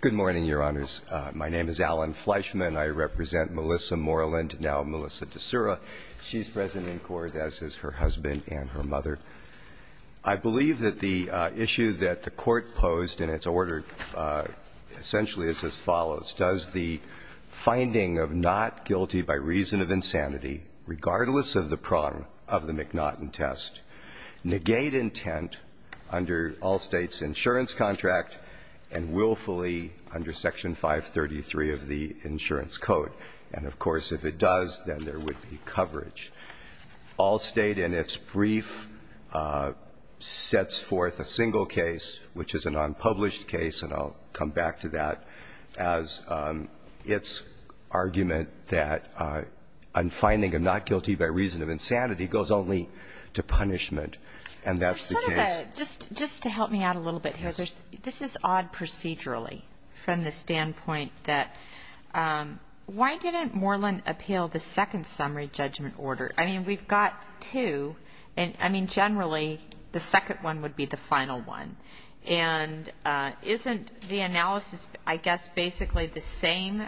Good morning, Your Honors. My name is Alan Fleischman. I represent Melissa Moreland, now Melissa D'Soura. She's present in court, as is her husband and her mother. I believe that the issue that the Court posed in its order essentially is as follows. Does the finding of not guilty by reason of insanity, regardless of the prong of the insurance contract, and willfully under Section 533 of the Insurance Code? And, of course, if it does, then there would be coverage. Allstate, in its brief, sets forth a single case, which is an unpublished case, and I'll come back to that, as its argument that a finding of not guilty by reason of insanity goes only to punishment, and that's the case. Just to help me out a little bit here, this is odd procedurally, from the standpoint that why didn't Moreland appeal the second summary judgment order? I mean, we've got two, and, I mean, generally, the second one would be the final one. And isn't the analysis, I guess, basically the same,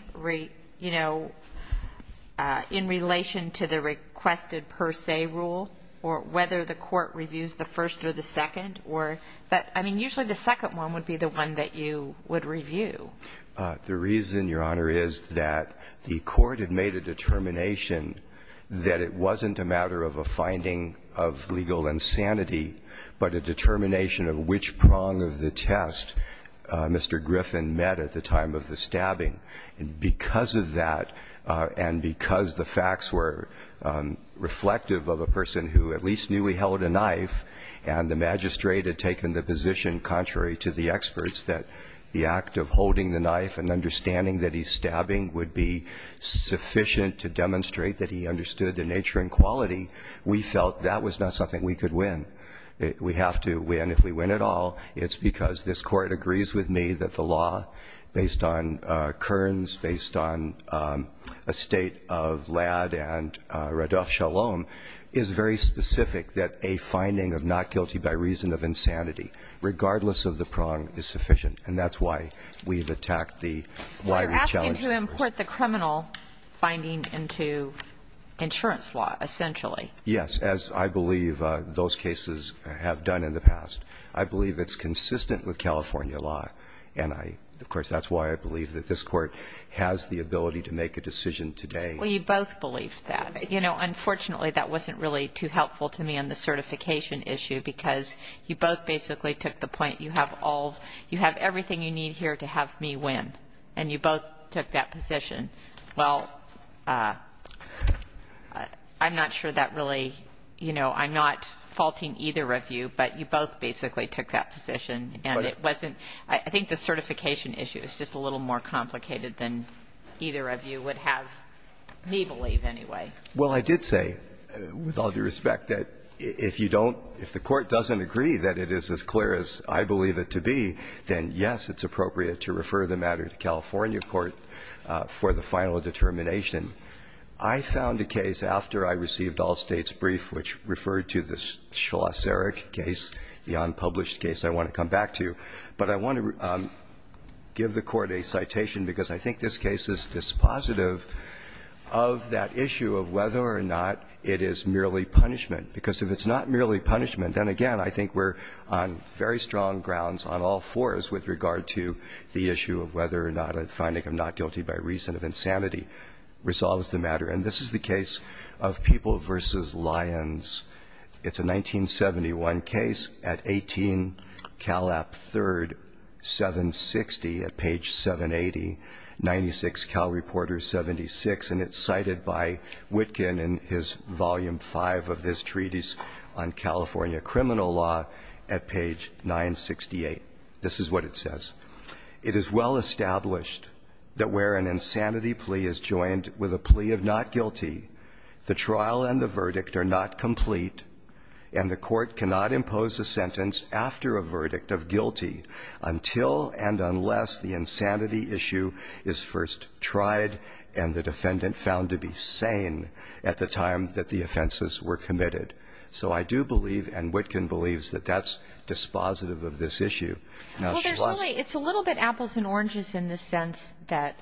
you know, in relation to the requested per se rule, or whether the Court reviews the first or the second? Or, I mean, usually the second one would be the one that you would review. The reason, Your Honor, is that the Court had made a determination that it wasn't a matter of a finding of legal insanity, but a determination of which prong of the test Mr. Griffin met at the time of the stabbing. And because of that, and because the facts were reflective of a person who at least knew he held a knife, and the magistrate had taken the position contrary to the experts that the act of holding the knife and understanding that he's stabbing would be sufficient to demonstrate that he understood the nature and quality, we felt that was not something we could win. We have to win. If we win at all, it's because this Court agrees with me that the law, based on Kearns, based on a state of Ladd and Radov-Shalom, is very specific that a finding of not guilty by reason of insanity, regardless of the prong, is sufficient. And that's why we've attacked the, why we challenged this. But you're asking to import the criminal finding into insurance law, essentially. Yes. As I believe those cases have done in the past. I believe it's consistent with California law. And I, of course, that's why I believe that this Court has the ability to make a decision today. Well, you both believed that. You know, unfortunately, that wasn't really too helpful to me on the certification issue, because you both basically took the point you have all, you have everything you need here to have me win. And you both took that position. Well, I'm not sure that really, you know, I'm not faulting either of you, but you both basically took that position. And it wasn't, I think the certification issue is just a little more complicated than either of you would have me believe anyway. Well, I did say, with all due respect, that if you don't, if the Court doesn't agree that it is as clear as I believe it to be, then, yes, it's appropriate to refer the matter to California court for the final determination. I found a case after I received all States' brief which referred to the Schlosserich case, the unpublished case I want to come back to. But I want to give the Court a citation, because I think this case is dispositive of that issue of whether or not it is merely punishment. Because if it's not merely punishment, then again, I think we're on very strong grounds on all fours with regard to the issue of whether or not a finding of not guilty by reason of insanity resolves the matter. And this is the case of People v. Lyons. It's a 1971 case at 18 Calap 3rd, 760 at page 780, 96 Cal Reporter 76. And it's cited by Witkin in his volume 5 of this treatise on California criminal law at page 968. This is what it says. It is well established that where an insanity plea is joined with a plea of not guilty, the trial and the verdict are not complete, and the Court cannot impose a sentence after a verdict of guilty until and unless the insanity issue is first tried and the defendant found to be sane at the time that the offenses were committed. So I do believe, and Witkin believes, that that's dispositive of this issue. Now, she lost it. Well, there's really – it's a little bit apples and oranges in the sense that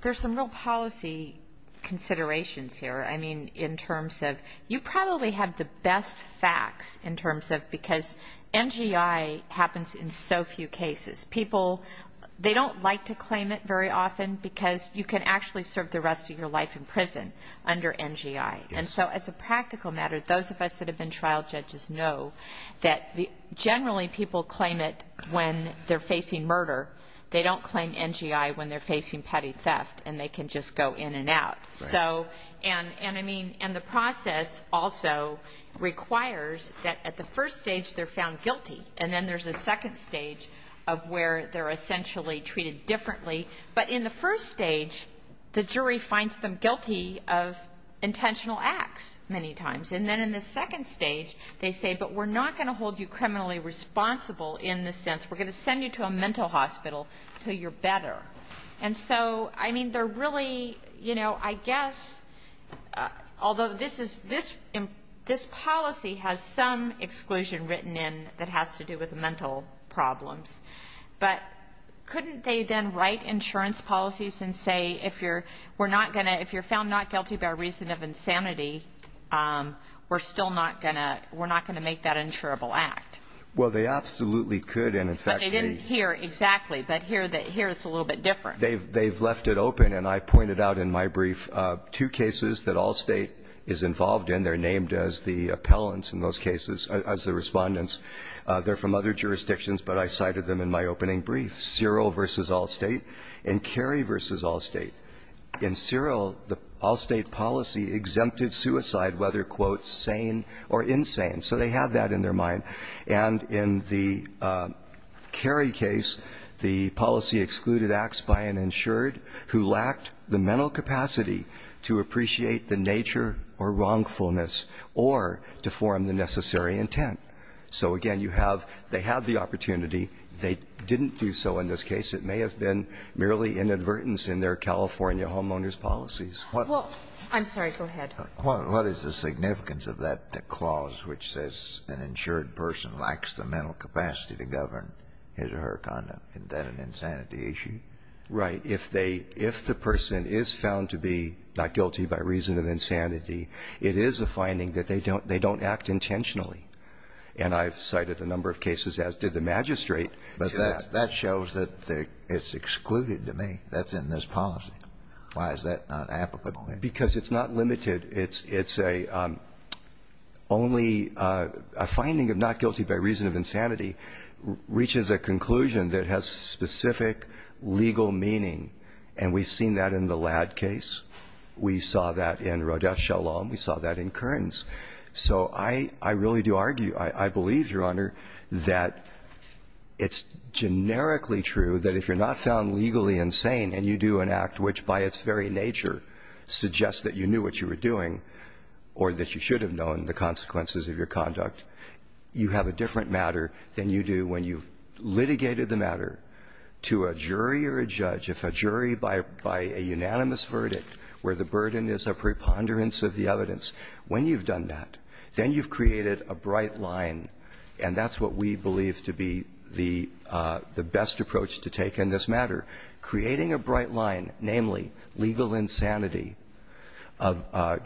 there's some real policy considerations here. I mean, in terms of – you probably have the best facts in terms of – because NGI happens in so few cases. People – they don't like to claim it very often, because you can actually serve the rest of your life in prison under NGI. And so as a practical matter, those of us that have been trial judges know that generally people claim it when they're facing murder. They don't claim NGI when they're facing petty theft, and they can just go in and out. So – and I mean – and the process also requires that at the first stage they're found guilty, and then there's a second stage of where they're essentially treated differently. But in the first stage, the jury finds them guilty of intentional acts many times. And then in the second stage, they say, but we're not going to hold you criminally responsible in the sense – we're going to send you to a mental hospital until you're better. And so, I mean, they're really – you know, I guess – although this is – this policy has some exclusion written in that has to do with mental problems, but couldn't they then write insurance policies and say, if you're – we're not going to – if you're found not guilty by reason of insanity, we're still not going to – we're not going to make that insurable act? Well, they absolutely could, and in fact, they – But they didn't here exactly, but here it's a little bit different. They've left it open. And I pointed out in my brief two cases that all State is involved in. They're named as the appellants in those cases – as the respondents. They're from other jurisdictions, but I cited them in my opening brief. Cyril versus Allstate and Kerry versus Allstate. In Cyril, the Allstate policy exempted suicide whether, quote, sane or insane. So they had that in their mind. And in the Kerry case, the policy excluded acts by an insured who lacked the mental capacity to appreciate the nature or wrongfulness or to form the necessary intent. So, again, you have – they have the opportunity. They didn't do so in this case. It may have been merely inadvertence in their California homeowner's policies. Well, I'm sorry. Go ahead. What is the significance of that clause which says an insured person lacks the mental capacity to govern his or her conduct? Isn't that an insanity issue? Right. If they – if the person is found to be not guilty by reason of insanity, it is a finding that they don't act intentionally. And I've cited a number of cases, as did the magistrate. But that shows that it's excluded to me. That's in this policy. Why is that not applicable? Because it's not limited. It's a – only a finding of not guilty by reason of insanity reaches a conclusion that has specific legal meaning. And we've seen that in the Ladd case. We saw that in Rodef Shalom. We saw that in Kearns. So I really do argue – I believe, Your Honor, that it's generically true that if you're not found legally insane and you do an act which by its very nature suggests that you knew what you were doing or that you should have known the consequences of your conduct, you have a different matter than you do when you've litigated the matter to a jury or a judge. If a jury, by a unanimous verdict, where the burden is a preponderance of the evidence, when you've done that, then you've created a bright line. And that's what we believe to be the best approach to take in this matter. Creating a bright line, namely legal insanity,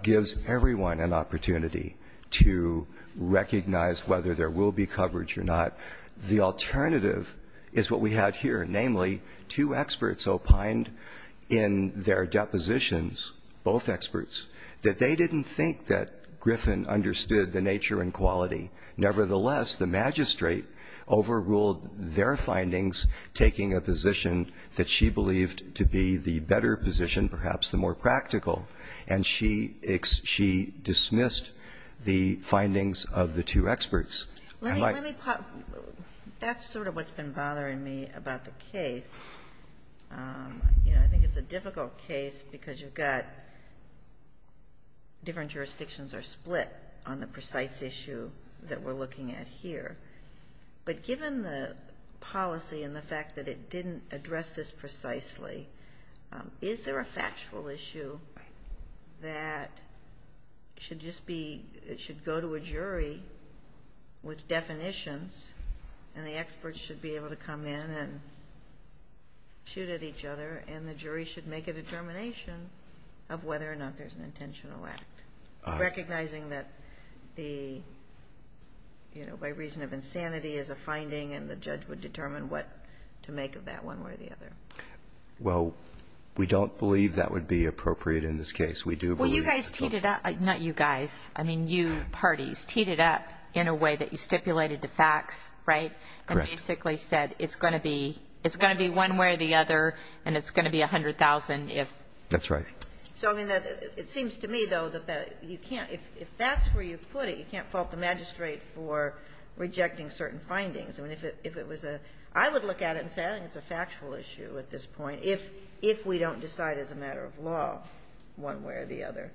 gives everyone an opportunity to recognize whether there will be coverage or not. The alternative is what we had here, namely two experts opined in their depositions, both experts, that they didn't think that Griffin understood the nature and quality. Nevertheless, the magistrate overruled their findings, taking a position that she believed to be the better position, perhaps the more practical, and she dismissed the findings of the two experts. And like- Let me, let me, that's sort of what's been bothering me about the case. You know, I think it's a difficult case because you've got different jurisdictions are split on the precise issue that we're looking at here. But given the policy and the fact that it didn't address this precisely, is there a factual issue that should just be, it should go to a jury? With definitions, and the experts should be able to come in and shoot at each other, and the jury should make a determination of whether or not there's an intentional act? Recognizing that the, you know, by reason of insanity is a finding and the judge would determine what to make of that one way or the other. Well, we don't believe that would be appropriate in this case. We do believe- Well, you guys teed it up, not you guys. I mean, you parties teed it up in a way that you stipulated the facts, right? And basically said it's going to be one way or the other, and it's going to be 100,000 if- That's right. So, I mean, it seems to me, though, that you can't, if that's where you put it, you can't fault the magistrate for rejecting certain findings. I mean, if it was a, I would look at it and say, I think it's a factual issue at this point, if we don't decide as a matter of law one way or the other.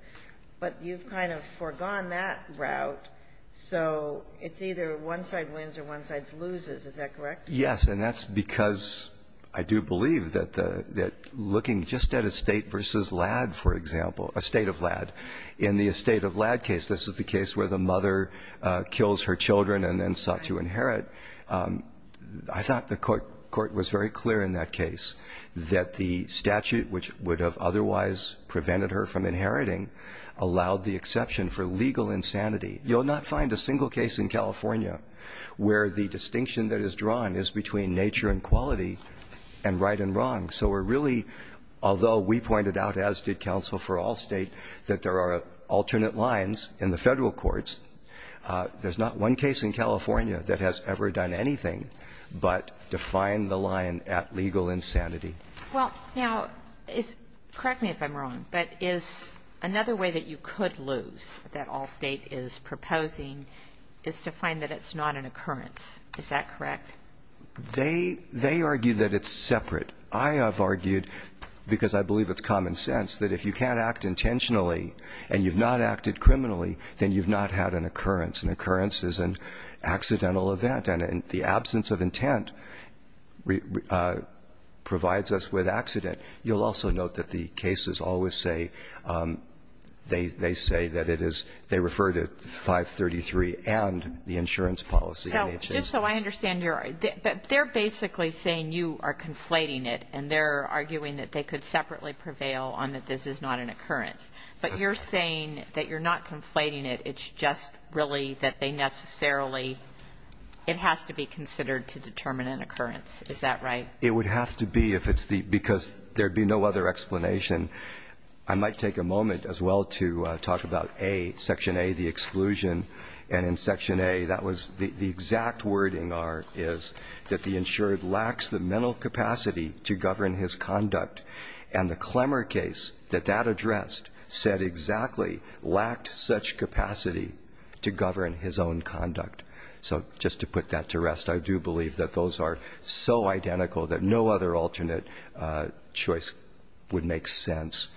But you've kind of foregone that route, so it's either one side wins or one side loses. Is that correct? Yes, and that's because I do believe that looking just at Estate v. Ladd, for example, Estate of Ladd. In the Estate of Ladd case, this is the case where the mother kills her children and then sought to inherit. I thought the Court was very clear in that case that the statute, which would have otherwise prevented her from inheriting, allowed the exception for legal insanity. You'll not find a single case in California where the distinction that is drawn is between nature and quality and right and wrong. So we're really, although we pointed out, as did counsel for all State, that there are alternate lines in the Federal courts, there's not one case in California that has ever done anything but define the line at legal insanity. Well, now, correct me if I'm wrong, but is another way that you could lose that all State is proposing is to find that it's not an occurrence. Is that correct? They argue that it's separate. I have argued, because I believe it's common sense, that if you can't act intentionally and you've not acted criminally, then you've not had an occurrence. An occurrence is an accidental event, and the absence of intent provides an opportunity to prevent an occurrence, and it provides us with accident. You'll also note that the cases always say, they say that it is, they refer to 533 and the insurance policy. Now, just so I understand your argument, but they're basically saying you are conflating it, and they're arguing that they could separately prevail on that this is not an occurrence. But you're saying that you're not conflating it, it's just really that they necessarily it has to be considered to determine an occurrence. Is that right? It would have to be if it's the, because there'd be no other explanation. I might take a moment as well to talk about A, Section A, the exclusion. And in Section A, that was the exact wording is that the insured lacks the mental capacity to govern his conduct. And the Clemmer case that that addressed said exactly lacked such capacity to govern his own conduct. So just to put that to rest, I do believe that those are so identical that no other alternate choice would make sense.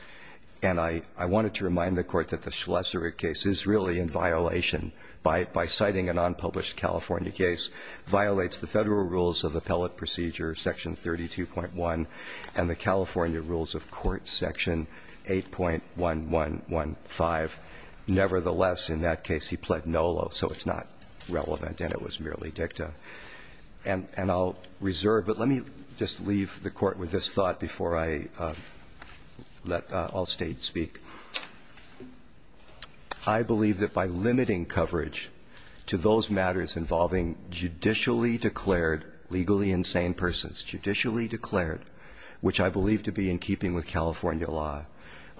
And I wanted to remind the court that the Schleser case is really in violation by citing an unpublished California case, violates the federal rules of appellate procedure, Section 32.1, and the California rules of court, Section 8.1115. Nevertheless, in that case, he pled nolo, so it's not relevant and it was merely dicta. And I'll reserve, but let me just leave the court with this thought before I let all states speak. I believe that by limiting coverage to those matters involving judicially declared, legally insane persons, judicially declared, which I believe to be in keeping with California law,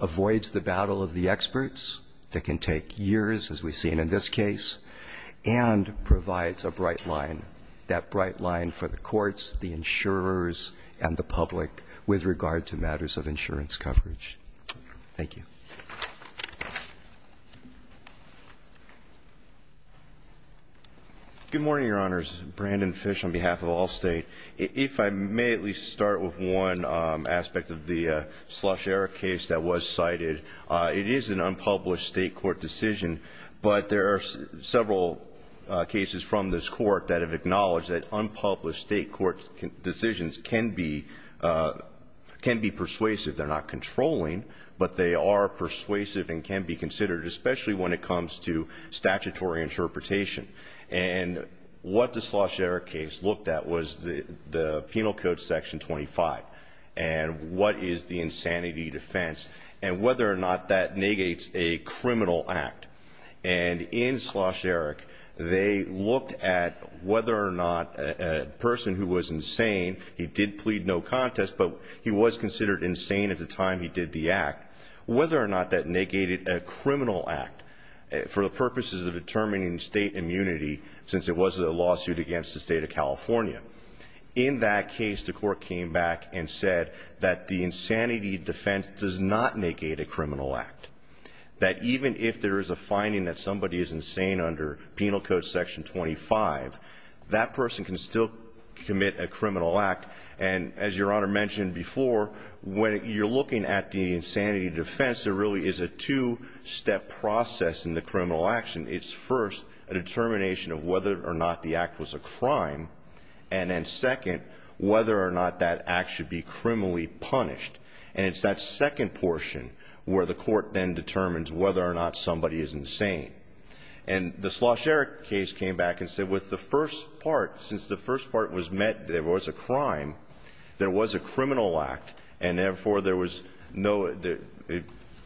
avoids the battle of the experts that can take years, as we've seen in this case, and provides a bright line, that bright line for the courts, the insurers, and the public with regard to matters of insurance coverage. Thank you. Good morning, your honors. Brandon Fish on behalf of Allstate. If I may at least start with one aspect of the Slosh-Erik case that was cited. It is an unpublished state court decision, but there are several cases from this court that have acknowledged that unpublished state court decisions can be persuasive. They're not controlling, but they are persuasive and can be considered, especially when it comes to statutory interpretation. And what the Slosh-Erik case looked at was the penal code section 25. And what is the insanity defense, and whether or not that negates a criminal act. And in Slosh-Erik, they looked at whether or not a person who was insane, he did plead no contest, but he was considered insane at the time he did the act. Whether or not that negated a criminal act, for the purposes of determining state immunity, since it was a lawsuit against the state of California. In that case, the court came back and said that the insanity defense does not negate a criminal act. That even if there is a finding that somebody is insane under penal code section 25, that person can still commit a criminal act. And as your honor mentioned before, when you're looking at the insanity defense, there really is a two-step process in the criminal action. It's first, a determination of whether or not the act was a crime, and then second, whether or not that act should be criminally punished. And it's that second portion where the court then determines whether or not somebody is insane. And the Slosh-Erik case came back and said with the first part, since the first part was met, there was a crime, there was a criminal act, and therefore, there was no, it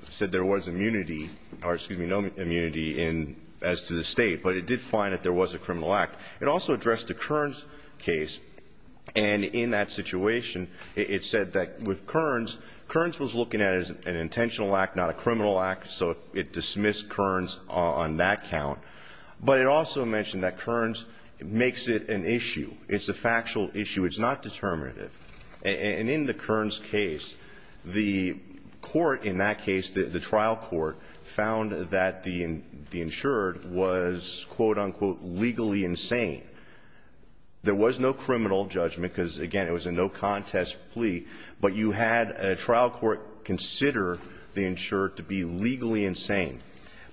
said there was immunity, or excuse me, no immunity as to the state. But it did find that there was a criminal act. It also addressed the Kearns case. And in that situation, it said that with Kearns, Kearns was looking at it as an intentional act, not a criminal act, so it dismissed Kearns on that count. But it also mentioned that Kearns makes it an issue, it's a factual issue, it's not determinative. And in the Kearns case, the court in that case, the trial court, found that the insured was, quote, unquote, legally insane. There was no criminal judgment, because again, it was a no contest plea, but you had a trial court consider the insured to be legally insane.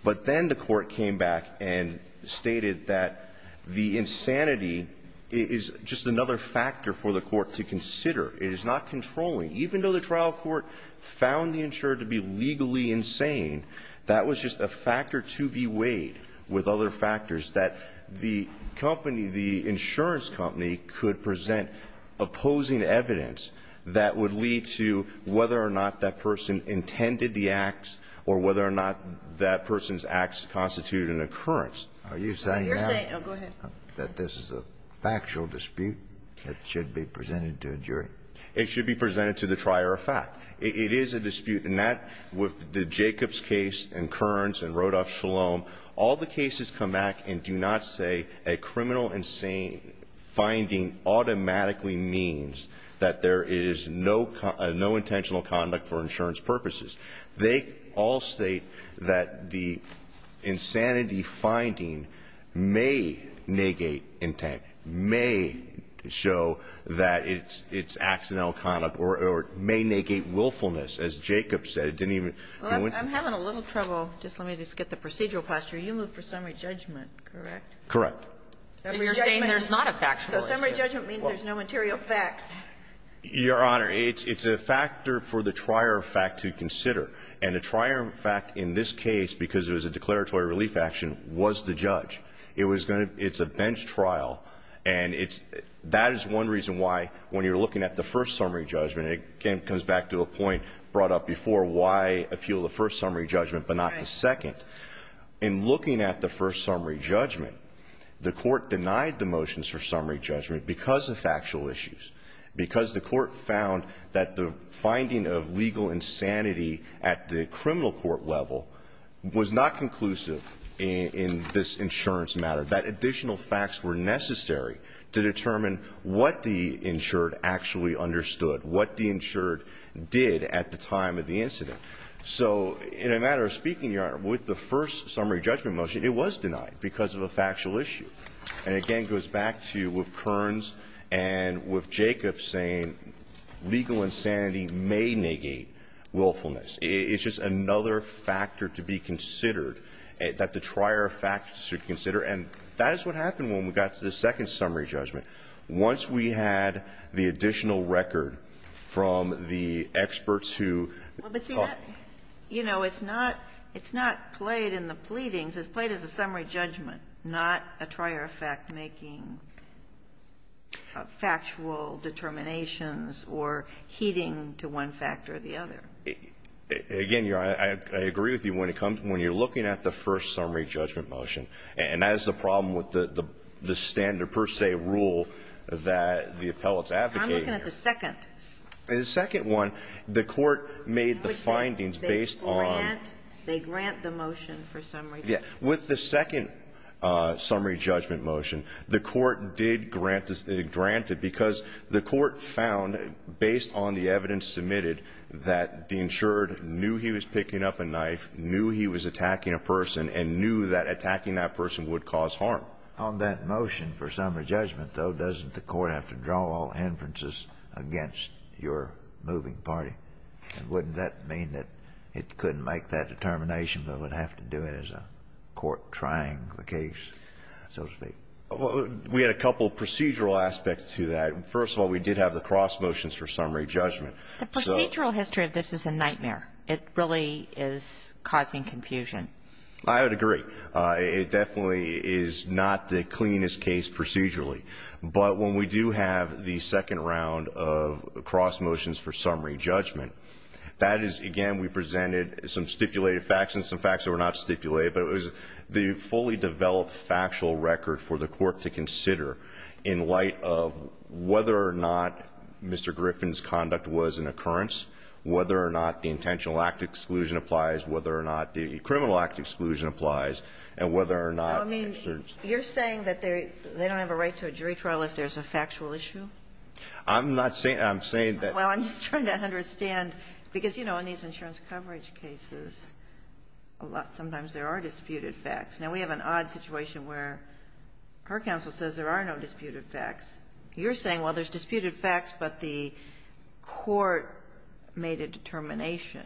But then the court came back and stated that the insanity is just another factor for the court to consider, it is not controlling, even though the trial court found the insured to be legally insane. That was just a factor to be weighed with other factors that the company, the insurance company, could present opposing evidence that would lead to whether or not that person intended the acts, or whether or not that person's acts constituted an occurrence. Are you saying now- You're saying, go ahead. That this is a factual dispute that should be presented to a jury? It should be presented to the trier of fact. It is a dispute, and that, with the Jacobs case, and Kearns, and Rodolf Shalom, all the cases come back and do not say a criminal insane finding automatically means that there is no intentional conduct for insurance purposes. They all state that the insanity finding may negate intent, may show that it's accidental conduct, or may negate willfulness. As Jacobs said, it didn't even- I'm having a little trouble. Just let me just get the procedural posture. You moved for summary judgment, correct? Correct. So you're saying there's not a factual issue? So summary judgment means there's no material facts. Your Honor, it's a factor for the trier of fact to consider. And the trier of fact in this case, because it was a declaratory relief action, was the judge. It's a bench trial, and that is one reason why, when you're looking at the first summary judgment, it comes back to a point brought up before why appeal the first summary judgment but not the second. In looking at the first summary judgment, the court denied the motions for because the court found that the finding of legal insanity at the criminal court level was not conclusive in this insurance matter. That additional facts were necessary to determine what the insured actually understood, what the insured did at the time of the incident. So in a matter of speaking, Your Honor, with the first summary judgment motion, it was denied because of a factual issue. And again, it goes back to with Kearns and with Jacob saying legal insanity may negate willfulness. It's just another factor to be considered, that the trier of fact should consider. And that is what happened when we got to the second summary judgment. Once we had the additional record from the experts who- But see that, it's not played in the pleadings. It's played as a summary judgment, not a trier of fact making factual determinations or heeding to one factor or the other. Again, Your Honor, I agree with you when it comes to when you're looking at the first summary judgment motion. And that is the problem with the standard per se rule that the appellate is advocating. I'm looking at the second. The second one, the court made the findings based on- They grant the motion for summary judgment. With the second summary judgment motion, the court did grant it because the court found, based on the evidence submitted, that the insured knew he was picking up a knife, knew he was attacking a person, and knew that attacking that person would cause harm. On that motion for summary judgment, though, doesn't the court have to draw all inferences against your moving party? Wouldn't that mean that it couldn't make that determination, but would have to do it as a court trying the case, so to speak? We had a couple of procedural aspects to that. First of all, we did have the cross motions for summary judgment. The procedural history of this is a nightmare. It really is causing confusion. I would agree. It definitely is not the cleanest case procedurally. But when we do have the second round of cross motions for summary judgment, that is, again, we presented some stipulated facts and some facts that were not stipulated, but it was the fully developed factual record for the court to consider in light of whether or not Mr. Griffin's conduct was an occurrence, whether or not the intentional act exclusion applies, whether or not the criminal act exclusion applies, and whether or not- You're saying that they don't have a right to a jury trial if there's a factual issue? I'm not saying that. I'm saying that- Well, I'm just trying to understand, because, you know, in these insurance coverage cases, sometimes there are disputed facts. Now, we have an odd situation where her counsel says there are no disputed facts. You're saying, well, there's disputed facts, but the court made a determination.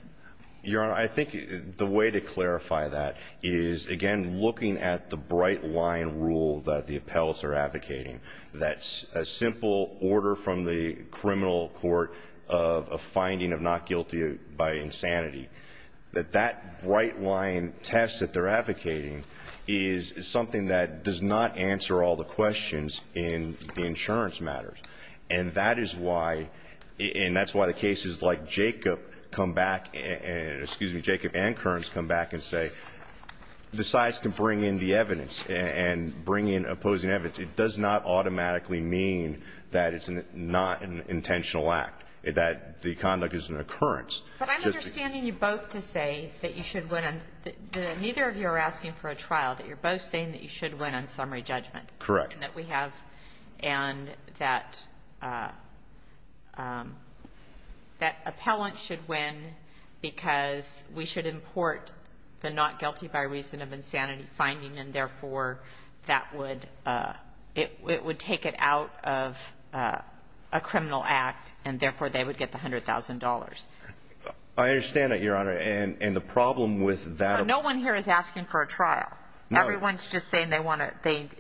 Your Honor, I think the way to clarify that is, again, looking at the bright line rule that the appellates are advocating, that simple order from the criminal court of a finding of not guilty by insanity, that that bright line test that they're advocating is something that does not answer all the questions in the insurance matters. And that is why the cases like Jacob come back and-excuse me, Jacob and Kearns come back and say the sides can bring in the evidence and bring in opposing evidence, it does not automatically mean that it's not an intentional act, that the conduct is an occurrence. But I'm understanding you both to say that you should win on-neither of you are asking for a trial, that you're both saying that you should win on summary judgment. It's important that we have and that appellant should win because we should import the not guilty by reason of insanity finding and, therefore, that would take it out of a criminal act and, therefore, they would get the $100,000. I understand that, Your Honor, and the problem with that- So no one here is asking for a trial? No. Everyone is just saying they want to think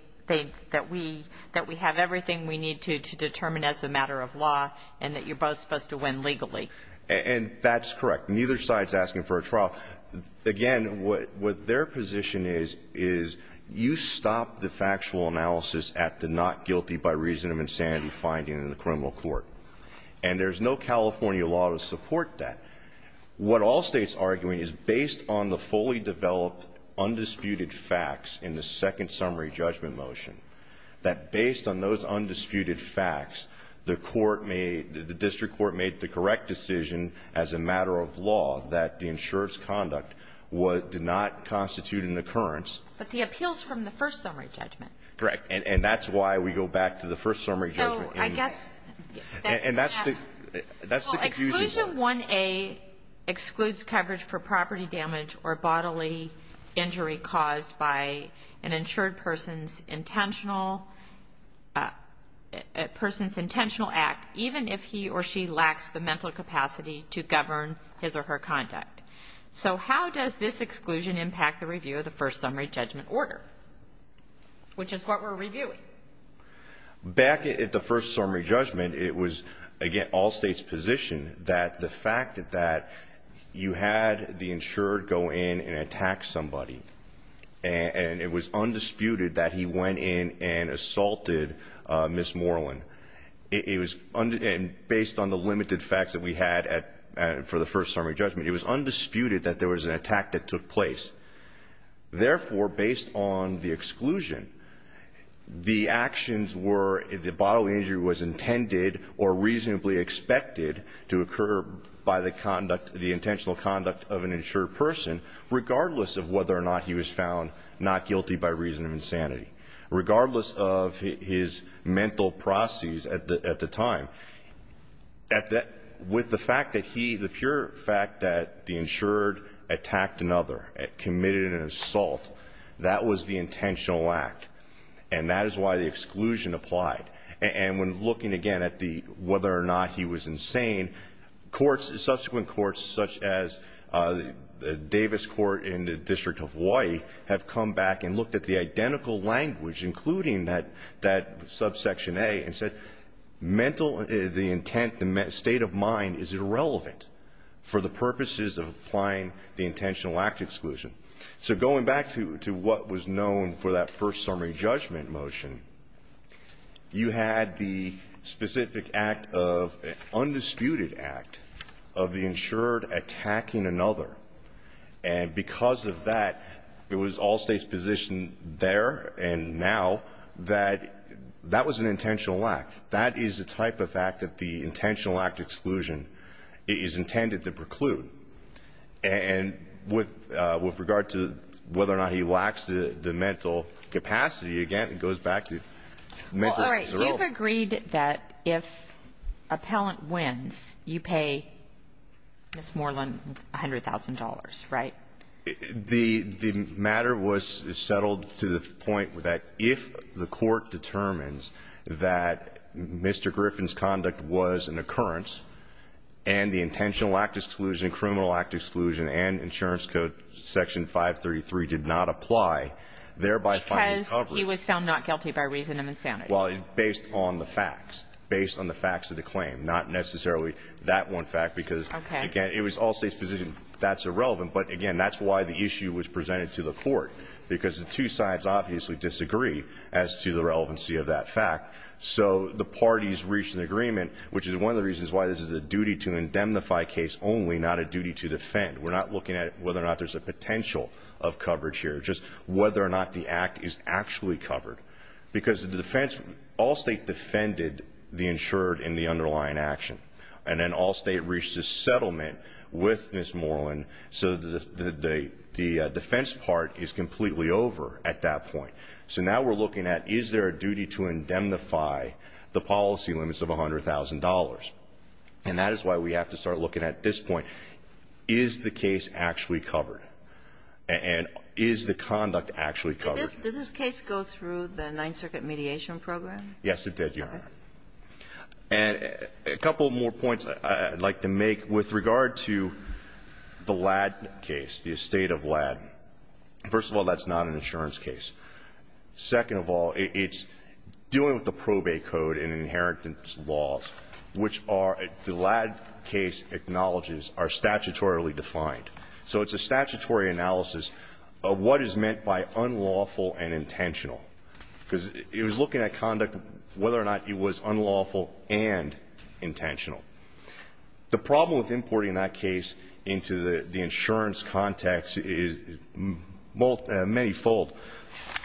that we have everything we need to determine as a matter of law and that you're both supposed to win legally. And that's correct. Neither side is asking for a trial. Again, what their position is, is you stop the factual analysis at the not guilty by reason of insanity finding in the criminal court. And there's no California law to support that. What all States are arguing is based on the fully developed undisputed facts in the second summary judgment motion, that based on those undisputed facts, the court made, the district court made the correct decision as a matter of law that the insurer's conduct did not constitute an occurrence. But the appeals from the first summary judgment. Correct. And that's why we go back to the first summary judgment. So I guess- And that's the- Well, exclusion 1A excludes coverage for property damage or bodily injury caused by an insured person's intentional act, even if he or she lacks the mental capacity to govern his or her conduct. So how does this exclusion impact the review of the first summary judgment order, which is what we're reviewing? Back at the first summary judgment, it was, again, all States' position that the fact that you had the insured go in and attack somebody, and it was undisputed that he went in and assaulted Ms. Moreland. It was based on the limited facts that we had for the first summary judgment. It was undisputed that there was an attack that took place. Therefore, based on the exclusion, the actions were, the bodily injury was intended or reasonably expected to occur by the conduct, the intentional conduct of an insured person, regardless of whether or not he was found not guilty by reason of insanity. Regardless of his mental processes at the time, with the fact that he, the pure fact that the insured attacked another, committed an assault, that was the intentional act. And that is why the exclusion applied. And when looking, again, at whether or not he was insane, courts, subsequent courts, such as Davis Court in the District of Hawaii, have come back and looked at the identical language, including that subsection A, and said, mental, the intent, the state of mind is irrelevant for the purposes of applying the intentional act exclusion. So going back to what was known for that first summary judgment motion, you had the specific act of undisputed act of the insured attacking another. And because of that, it was all States' position there and now that that was an intentional act. That is the type of act that the intentional act exclusion is intended to preclude. And with regard to whether or not he lacks the mental capacity, again, it goes back to mental. All right. You've agreed that if appellant wins, you pay, it's more than $100,000, right? The matter was settled to the point that if the court determines that Mr. Griffin's conduct was an occurrence and the intentional act exclusion, criminal act exclusion and insurance code section 533 did not apply, thereby finding coverage. Because he was found not guilty by reason of insanity. Well, based on the facts. Based on the facts of the claim, not necessarily that one fact because, again, it was all States' position that's irrelevant. But, again, that's why the issue was presented to the court. Because the two sides obviously disagree as to the relevancy of that fact. So the parties reached an agreement, which is one of the reasons why this is a duty to indemnify case only, not a duty to defend. We're not looking at whether or not there's a potential of coverage here. Just whether or not the act is actually covered. Because the defense, all States defended the insured in the underlying action. And then all States reached a settlement with Ms. Moreland. So the defense part is completely over at that point. So now we're looking at is there a duty to indemnify the policy limits of $100,000. And that is why we have to start looking at this point. Is the case actually covered? And is the conduct actually covered? Did this case go through the Ninth Circuit mediation program? Yes, it did, Your Honor. And a couple more points I'd like to make with regard to the Ladd case, the estate of Ladd. First of all, that's not an insurance case. Second of all, it's dealing with the probate code and inheritance laws, which are the Ladd case acknowledges are statutorily defined. So it's a statutory analysis of what is meant by unlawful and intentional. Because it was looking at conduct, whether or not it was unlawful and intentional. The problem with importing that case into the insurance context is manyfold.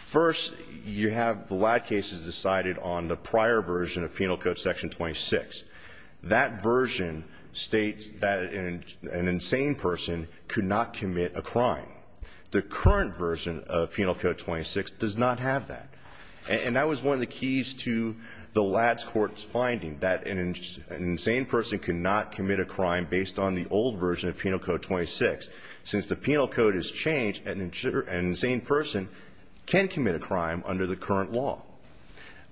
First, you have the Ladd case is decided on the prior version of Penal Code Section 26. That version states that an insane person could not commit a crime. The current version of Penal Code 26 does not have that. And that was one of the keys to the Ladd court's finding, that an insane person could not commit a crime based on the old version of Penal Code 26. Since the Penal Code has changed, an insane person can commit a crime under the current law.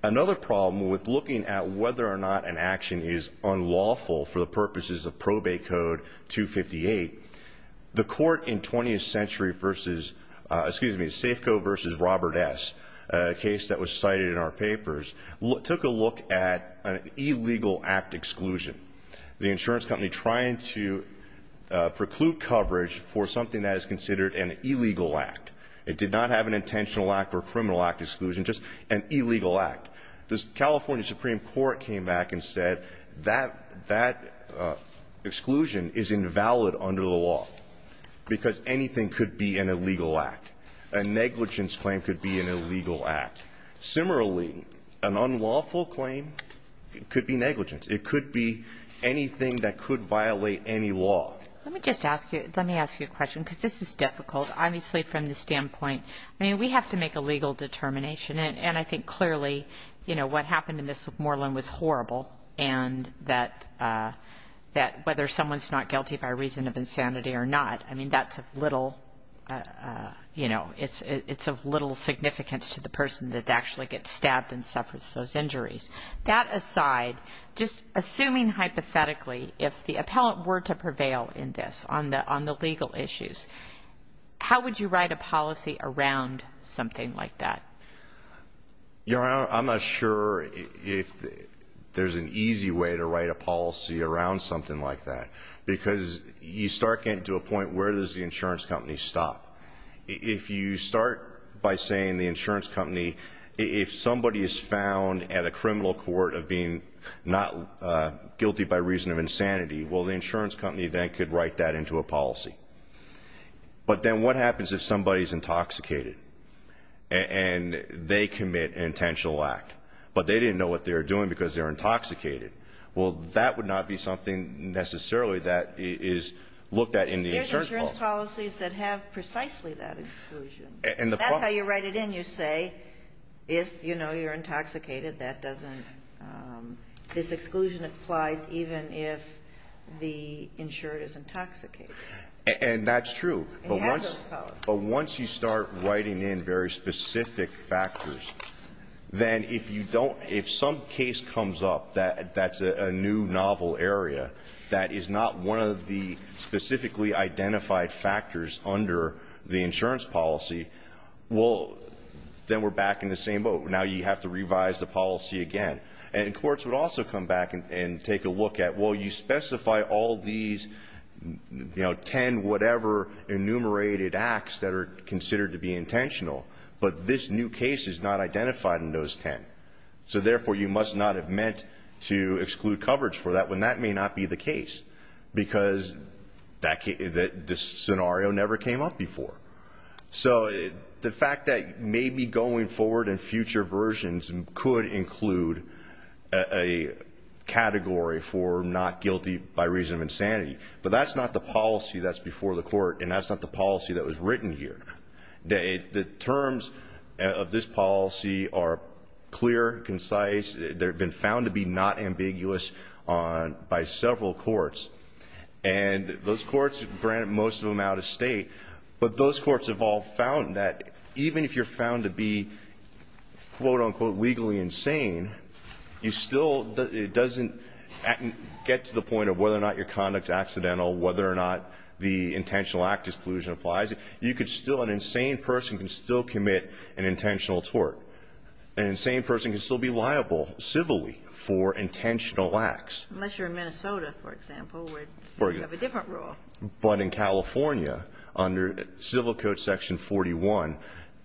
Another problem with looking at whether or not an action is unlawful for the purposes of Probate Code 258, the court in 20th Century versus, excuse me, Safeco versus Robert S. A case that was cited in our papers, took a look at an illegal act exclusion. The insurance company trying to preclude coverage for something that is considered an illegal act. It did not have an intentional act or criminal act exclusion, just an illegal act. The California Supreme Court came back and said that that exclusion is invalid under the law, because anything could be an illegal act. A negligence claim could be an illegal act. Similarly, an unlawful claim could be negligence. It could be anything that could violate any law. Let me just ask you, let me ask you a question, because this is difficult. Obviously, from the standpoint, I mean, we have to make a legal determination, and I think clearly, you know, what happened to Ms. Moreland was horrible, and that whether someone's not guilty by reason of insanity or not, I mean, that's of little, you know, it's of little significance to the person that actually gets stabbed and suffers those injuries. That aside, just assuming hypothetically, if the appellant were to prevail in this on the legal issues, how would you write a policy around something like that? Your Honor, I'm not sure if there's an easy way to write a policy around something like that, because you start getting to a point where does the insurance company stop. If you start by saying the insurance company, if somebody is found at a criminal court of being not guilty by reason of insanity, well, the insurance company then could write that into a policy. But then what happens if somebody's intoxicated and they commit an intentional act, but they didn't know what they were doing because they're intoxicated? Well, that would not be something necessarily that is looked at in the insurance policy. There's insurance policies that have precisely that exclusion. That's how you write it in. You say if, you know, you're intoxicated, that doesn't, this exclusion applies even if the insured is intoxicated. And that's true. But once you start writing in very specific factors, then if you don't, if some case comes up that's a new novel area that is not one of the specifically identified factors under the insurance policy, well, then we're back in the same boat. Now you have to revise the policy again. And courts would also come back and take a look at, well, you specify all these, you know, 10 whatever enumerated acts that are considered to be intentional, but this new case is not identified in those 10. So, therefore, you must not have meant to exclude coverage for that when that may not be the case because this scenario never came up before. So the fact that maybe going forward in future versions could include a case that's not guilty by reason of insanity, but that's not the policy that's before the court and that's not the policy that was written here. The terms of this policy are clear, concise. They've been found to be not ambiguous by several courts. And those courts, granted, most of them out of state, but those courts have all found that even if you're found to be, quote, unquote, legally insane, you still get to the point of whether or not your conduct is accidental, whether or not the intentional act exclusion applies. You could still, an insane person can still commit an intentional tort. An insane person can still be liable civilly for intentional acts. Unless you're in Minnesota, for example, where you have a different rule. But in California, under Civil Code Section 41,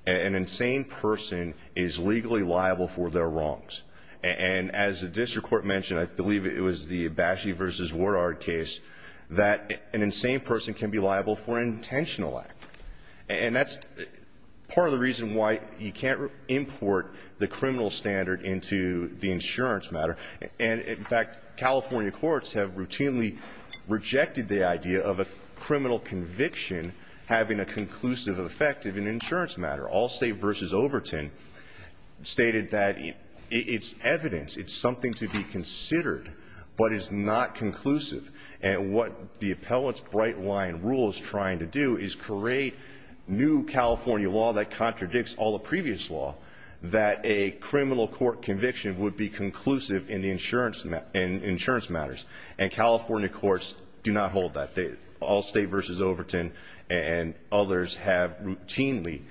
an insane person is legally liable for their wrongs. And as the district court mentioned, I believe it was the Bashi v. Wardard case, that an insane person can be liable for an intentional act. And that's part of the reason why you can't import the criminal standard into the insurance matter. And, in fact, California courts have routinely rejected the idea of a criminal conviction having a conclusive effect in an insurance matter. Allstate v. Overton stated that it's evidence, it's something to be considered, but it's not conclusive. And what the appellant's bright line rule is trying to do is create new California law that contradicts all the previous law, that a criminal court conviction would be conclusive in the insurance matters. And California courts do not hold that. Allstate v. Overton and others have routinely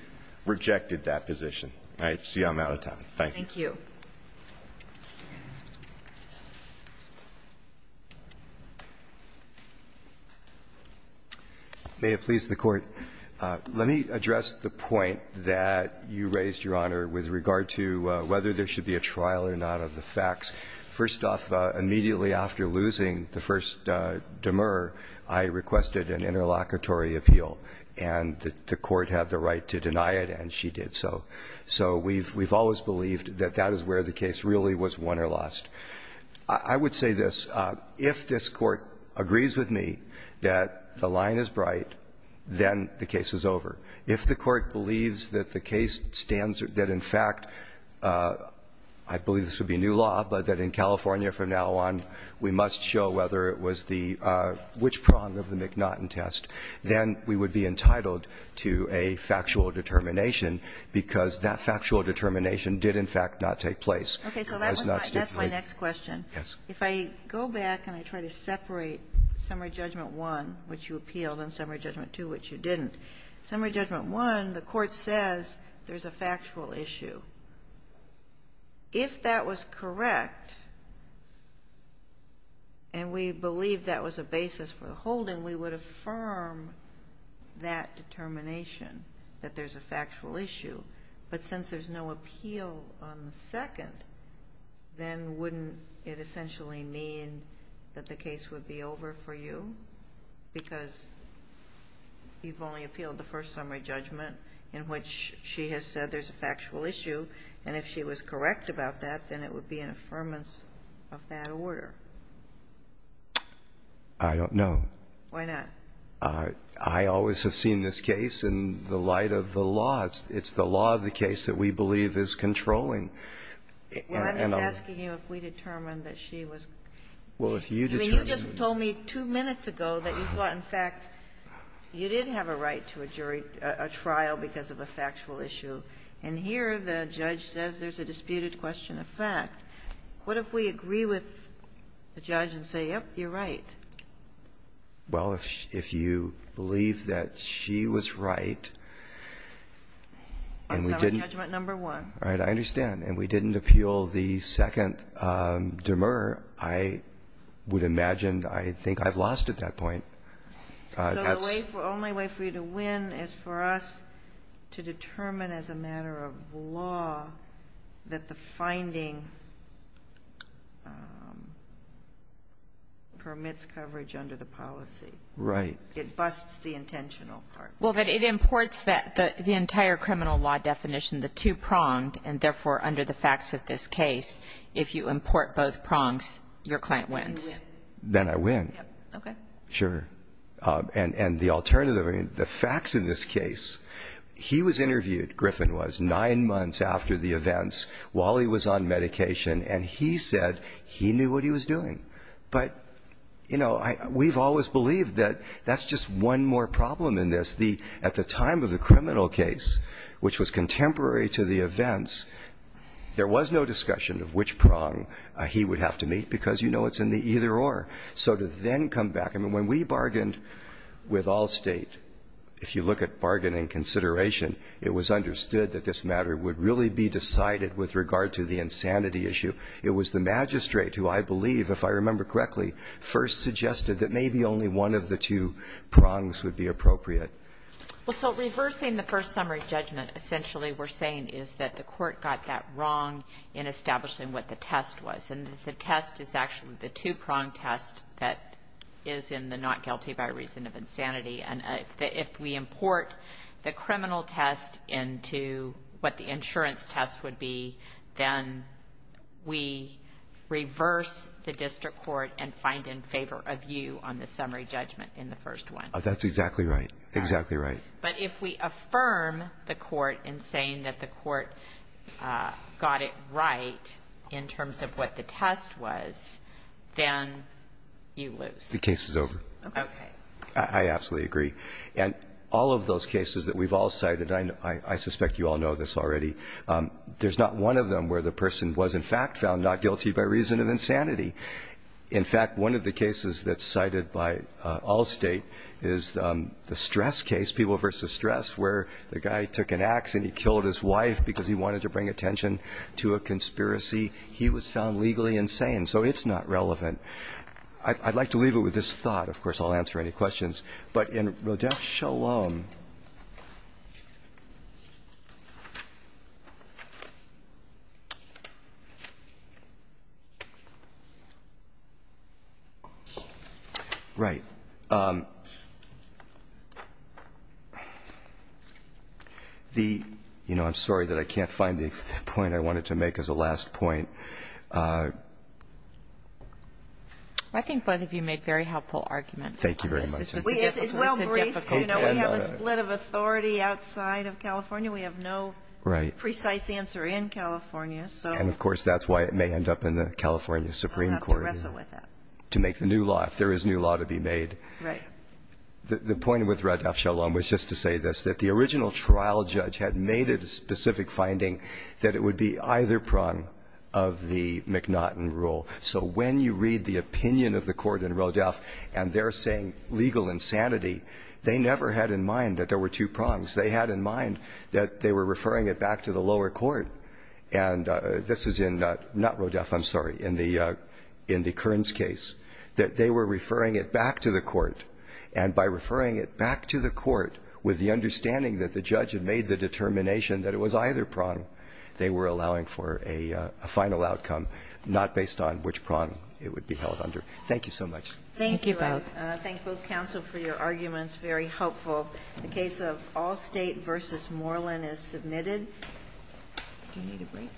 rejected that position. I see I'm out of time. Thank you. Thank you. May it please the Court. Let me address the point that you raised, Your Honor, with regard to whether there should be a trial or not of the facts. First off, immediately after losing the first demur, I requested an interlocutory appeal, and the court had the right to deny it, and she did so. So we've always believed that that is where the case really was won or lost. I would say this. If this Court agrees with me that the line is bright, then the case is over. If the Court believes that the case stands or that, in fact, I believe this would be a new law, but that in California from now on we must show whether it was the which prong of the McNaughton test, then we would be entitled to a factual determination, because that factual determination did, in fact, not take place. It was not stipulated. Okay. So that's my next question. Yes. If I go back and I try to separate summary judgment one, which you appealed, and summary judgment two, which you didn't, summary judgment one, the Court says there's a factual issue. If that was correct, and we believe that was a basis for the holding, we would affirm that determination, that there's a factual issue. But since there's no appeal on the second, then wouldn't it essentially mean that the case would be over for you, because you've only appealed the first summary judgment in which she has said there's a factual issue, and if she was correct about that, then it would be an affirmance of that order? I don't know. Why not? I always have seen this case in the light of the law. It's the law of the case that we believe is controlling. Well, I'm just asking you if we determined that she was. Well, if you determined. I mean, you just told me two minutes ago that you thought, in fact, you did have a right to a jury or a trial because of a factual issue. And here the judge says there's a disputed question of fact. What if we agree with the judge and say, yep, you're right? Well, if you believe that she was right, and we didn't. Summary judgment number one. Right. I understand. And we didn't appeal the second demer. I would imagine I think I've lost at that point. So the only way for you to win is for us to determine as a matter of law that the finding permits coverage under the policy. Right. It busts the intentional part. Well, but it imports the entire criminal law definition, the two-pronged, and therefore under the facts of this case, if you import both prongs, your client wins. Then I win. Okay. Sure. And the alternative, I mean, the facts in this case, he was interviewed, Griffin was, nine months after the events while he was on medication, and he said he knew what he was doing. But, you know, we've always believed that that's just one more problem in this. At the time of the criminal case, which was contemporary to the events, there was no discussion of which prong he would have to meet because you know it's in the either-or. So to then come back, I mean, when we bargained with Allstate, if you look at bargaining consideration, it was understood that this matter would really be decided with regard to the insanity issue. It was the magistrate who I believe, if I remember correctly, first suggested that maybe only one of the two prongs would be appropriate. Well, so reversing the first summary judgment essentially we're saying is that the Court got that wrong in establishing what the test was. And the test is actually the two-prong test that is in the not guilty by reason of insanity. And if we import the criminal test into what the insurance test would be, then we reverse the district court and find in favor of you on the summary judgment in the first one. That's exactly right. Exactly right. But if we affirm the Court in saying that the Court got it right in terms of what the test was, then you lose. The case is over. Okay. I absolutely agree. And all of those cases that we've all cited, I suspect you all know this already. There's not one of them where the person was in fact found not guilty by reason of insanity. In fact, one of the cases that's cited by Allstate is the stress case, people versus stress, where the guy took an ax and he killed his wife because he wanted to bring attention to a conspiracy. He was found legally insane. So it's not relevant. I'd like to leave it with this thought. Of course, I'll answer any questions. But in Rodeff-Shalom, right, the – you know, I'm sorry that I can't find the point I wanted to make as a last point. I think both of you made very helpful arguments. Thank you very much. It's well briefed. You know, we have a split of authority outside of California. We have no precise answer in California. And, of course, that's why it may end up in the California Supreme Court to make the new law, if there is new law to be made. Right. The point with Rodeff-Shalom was just to say this, that the original trial judge had made it a specific finding that it would be either prong of the McNaughton rule. So when you read the opinion of the court in Rodeff and they're saying legal insanity, they never had in mind that there were two prongs. They had in mind that they were referring it back to the lower court. And this is in – not Rodeff, I'm sorry, in the Kearns case, that they were referring it back to the court. And by referring it back to the court with the understanding that the judge had made the determination that it was either prong, they were allowing for a final outcome, not based on which prong it would be held under. Thank you so much. Thank you both. Thank you. I thank both counsel for your arguments, very helpful. The case of Allstate v. Moreland is submitted. Do you need a break?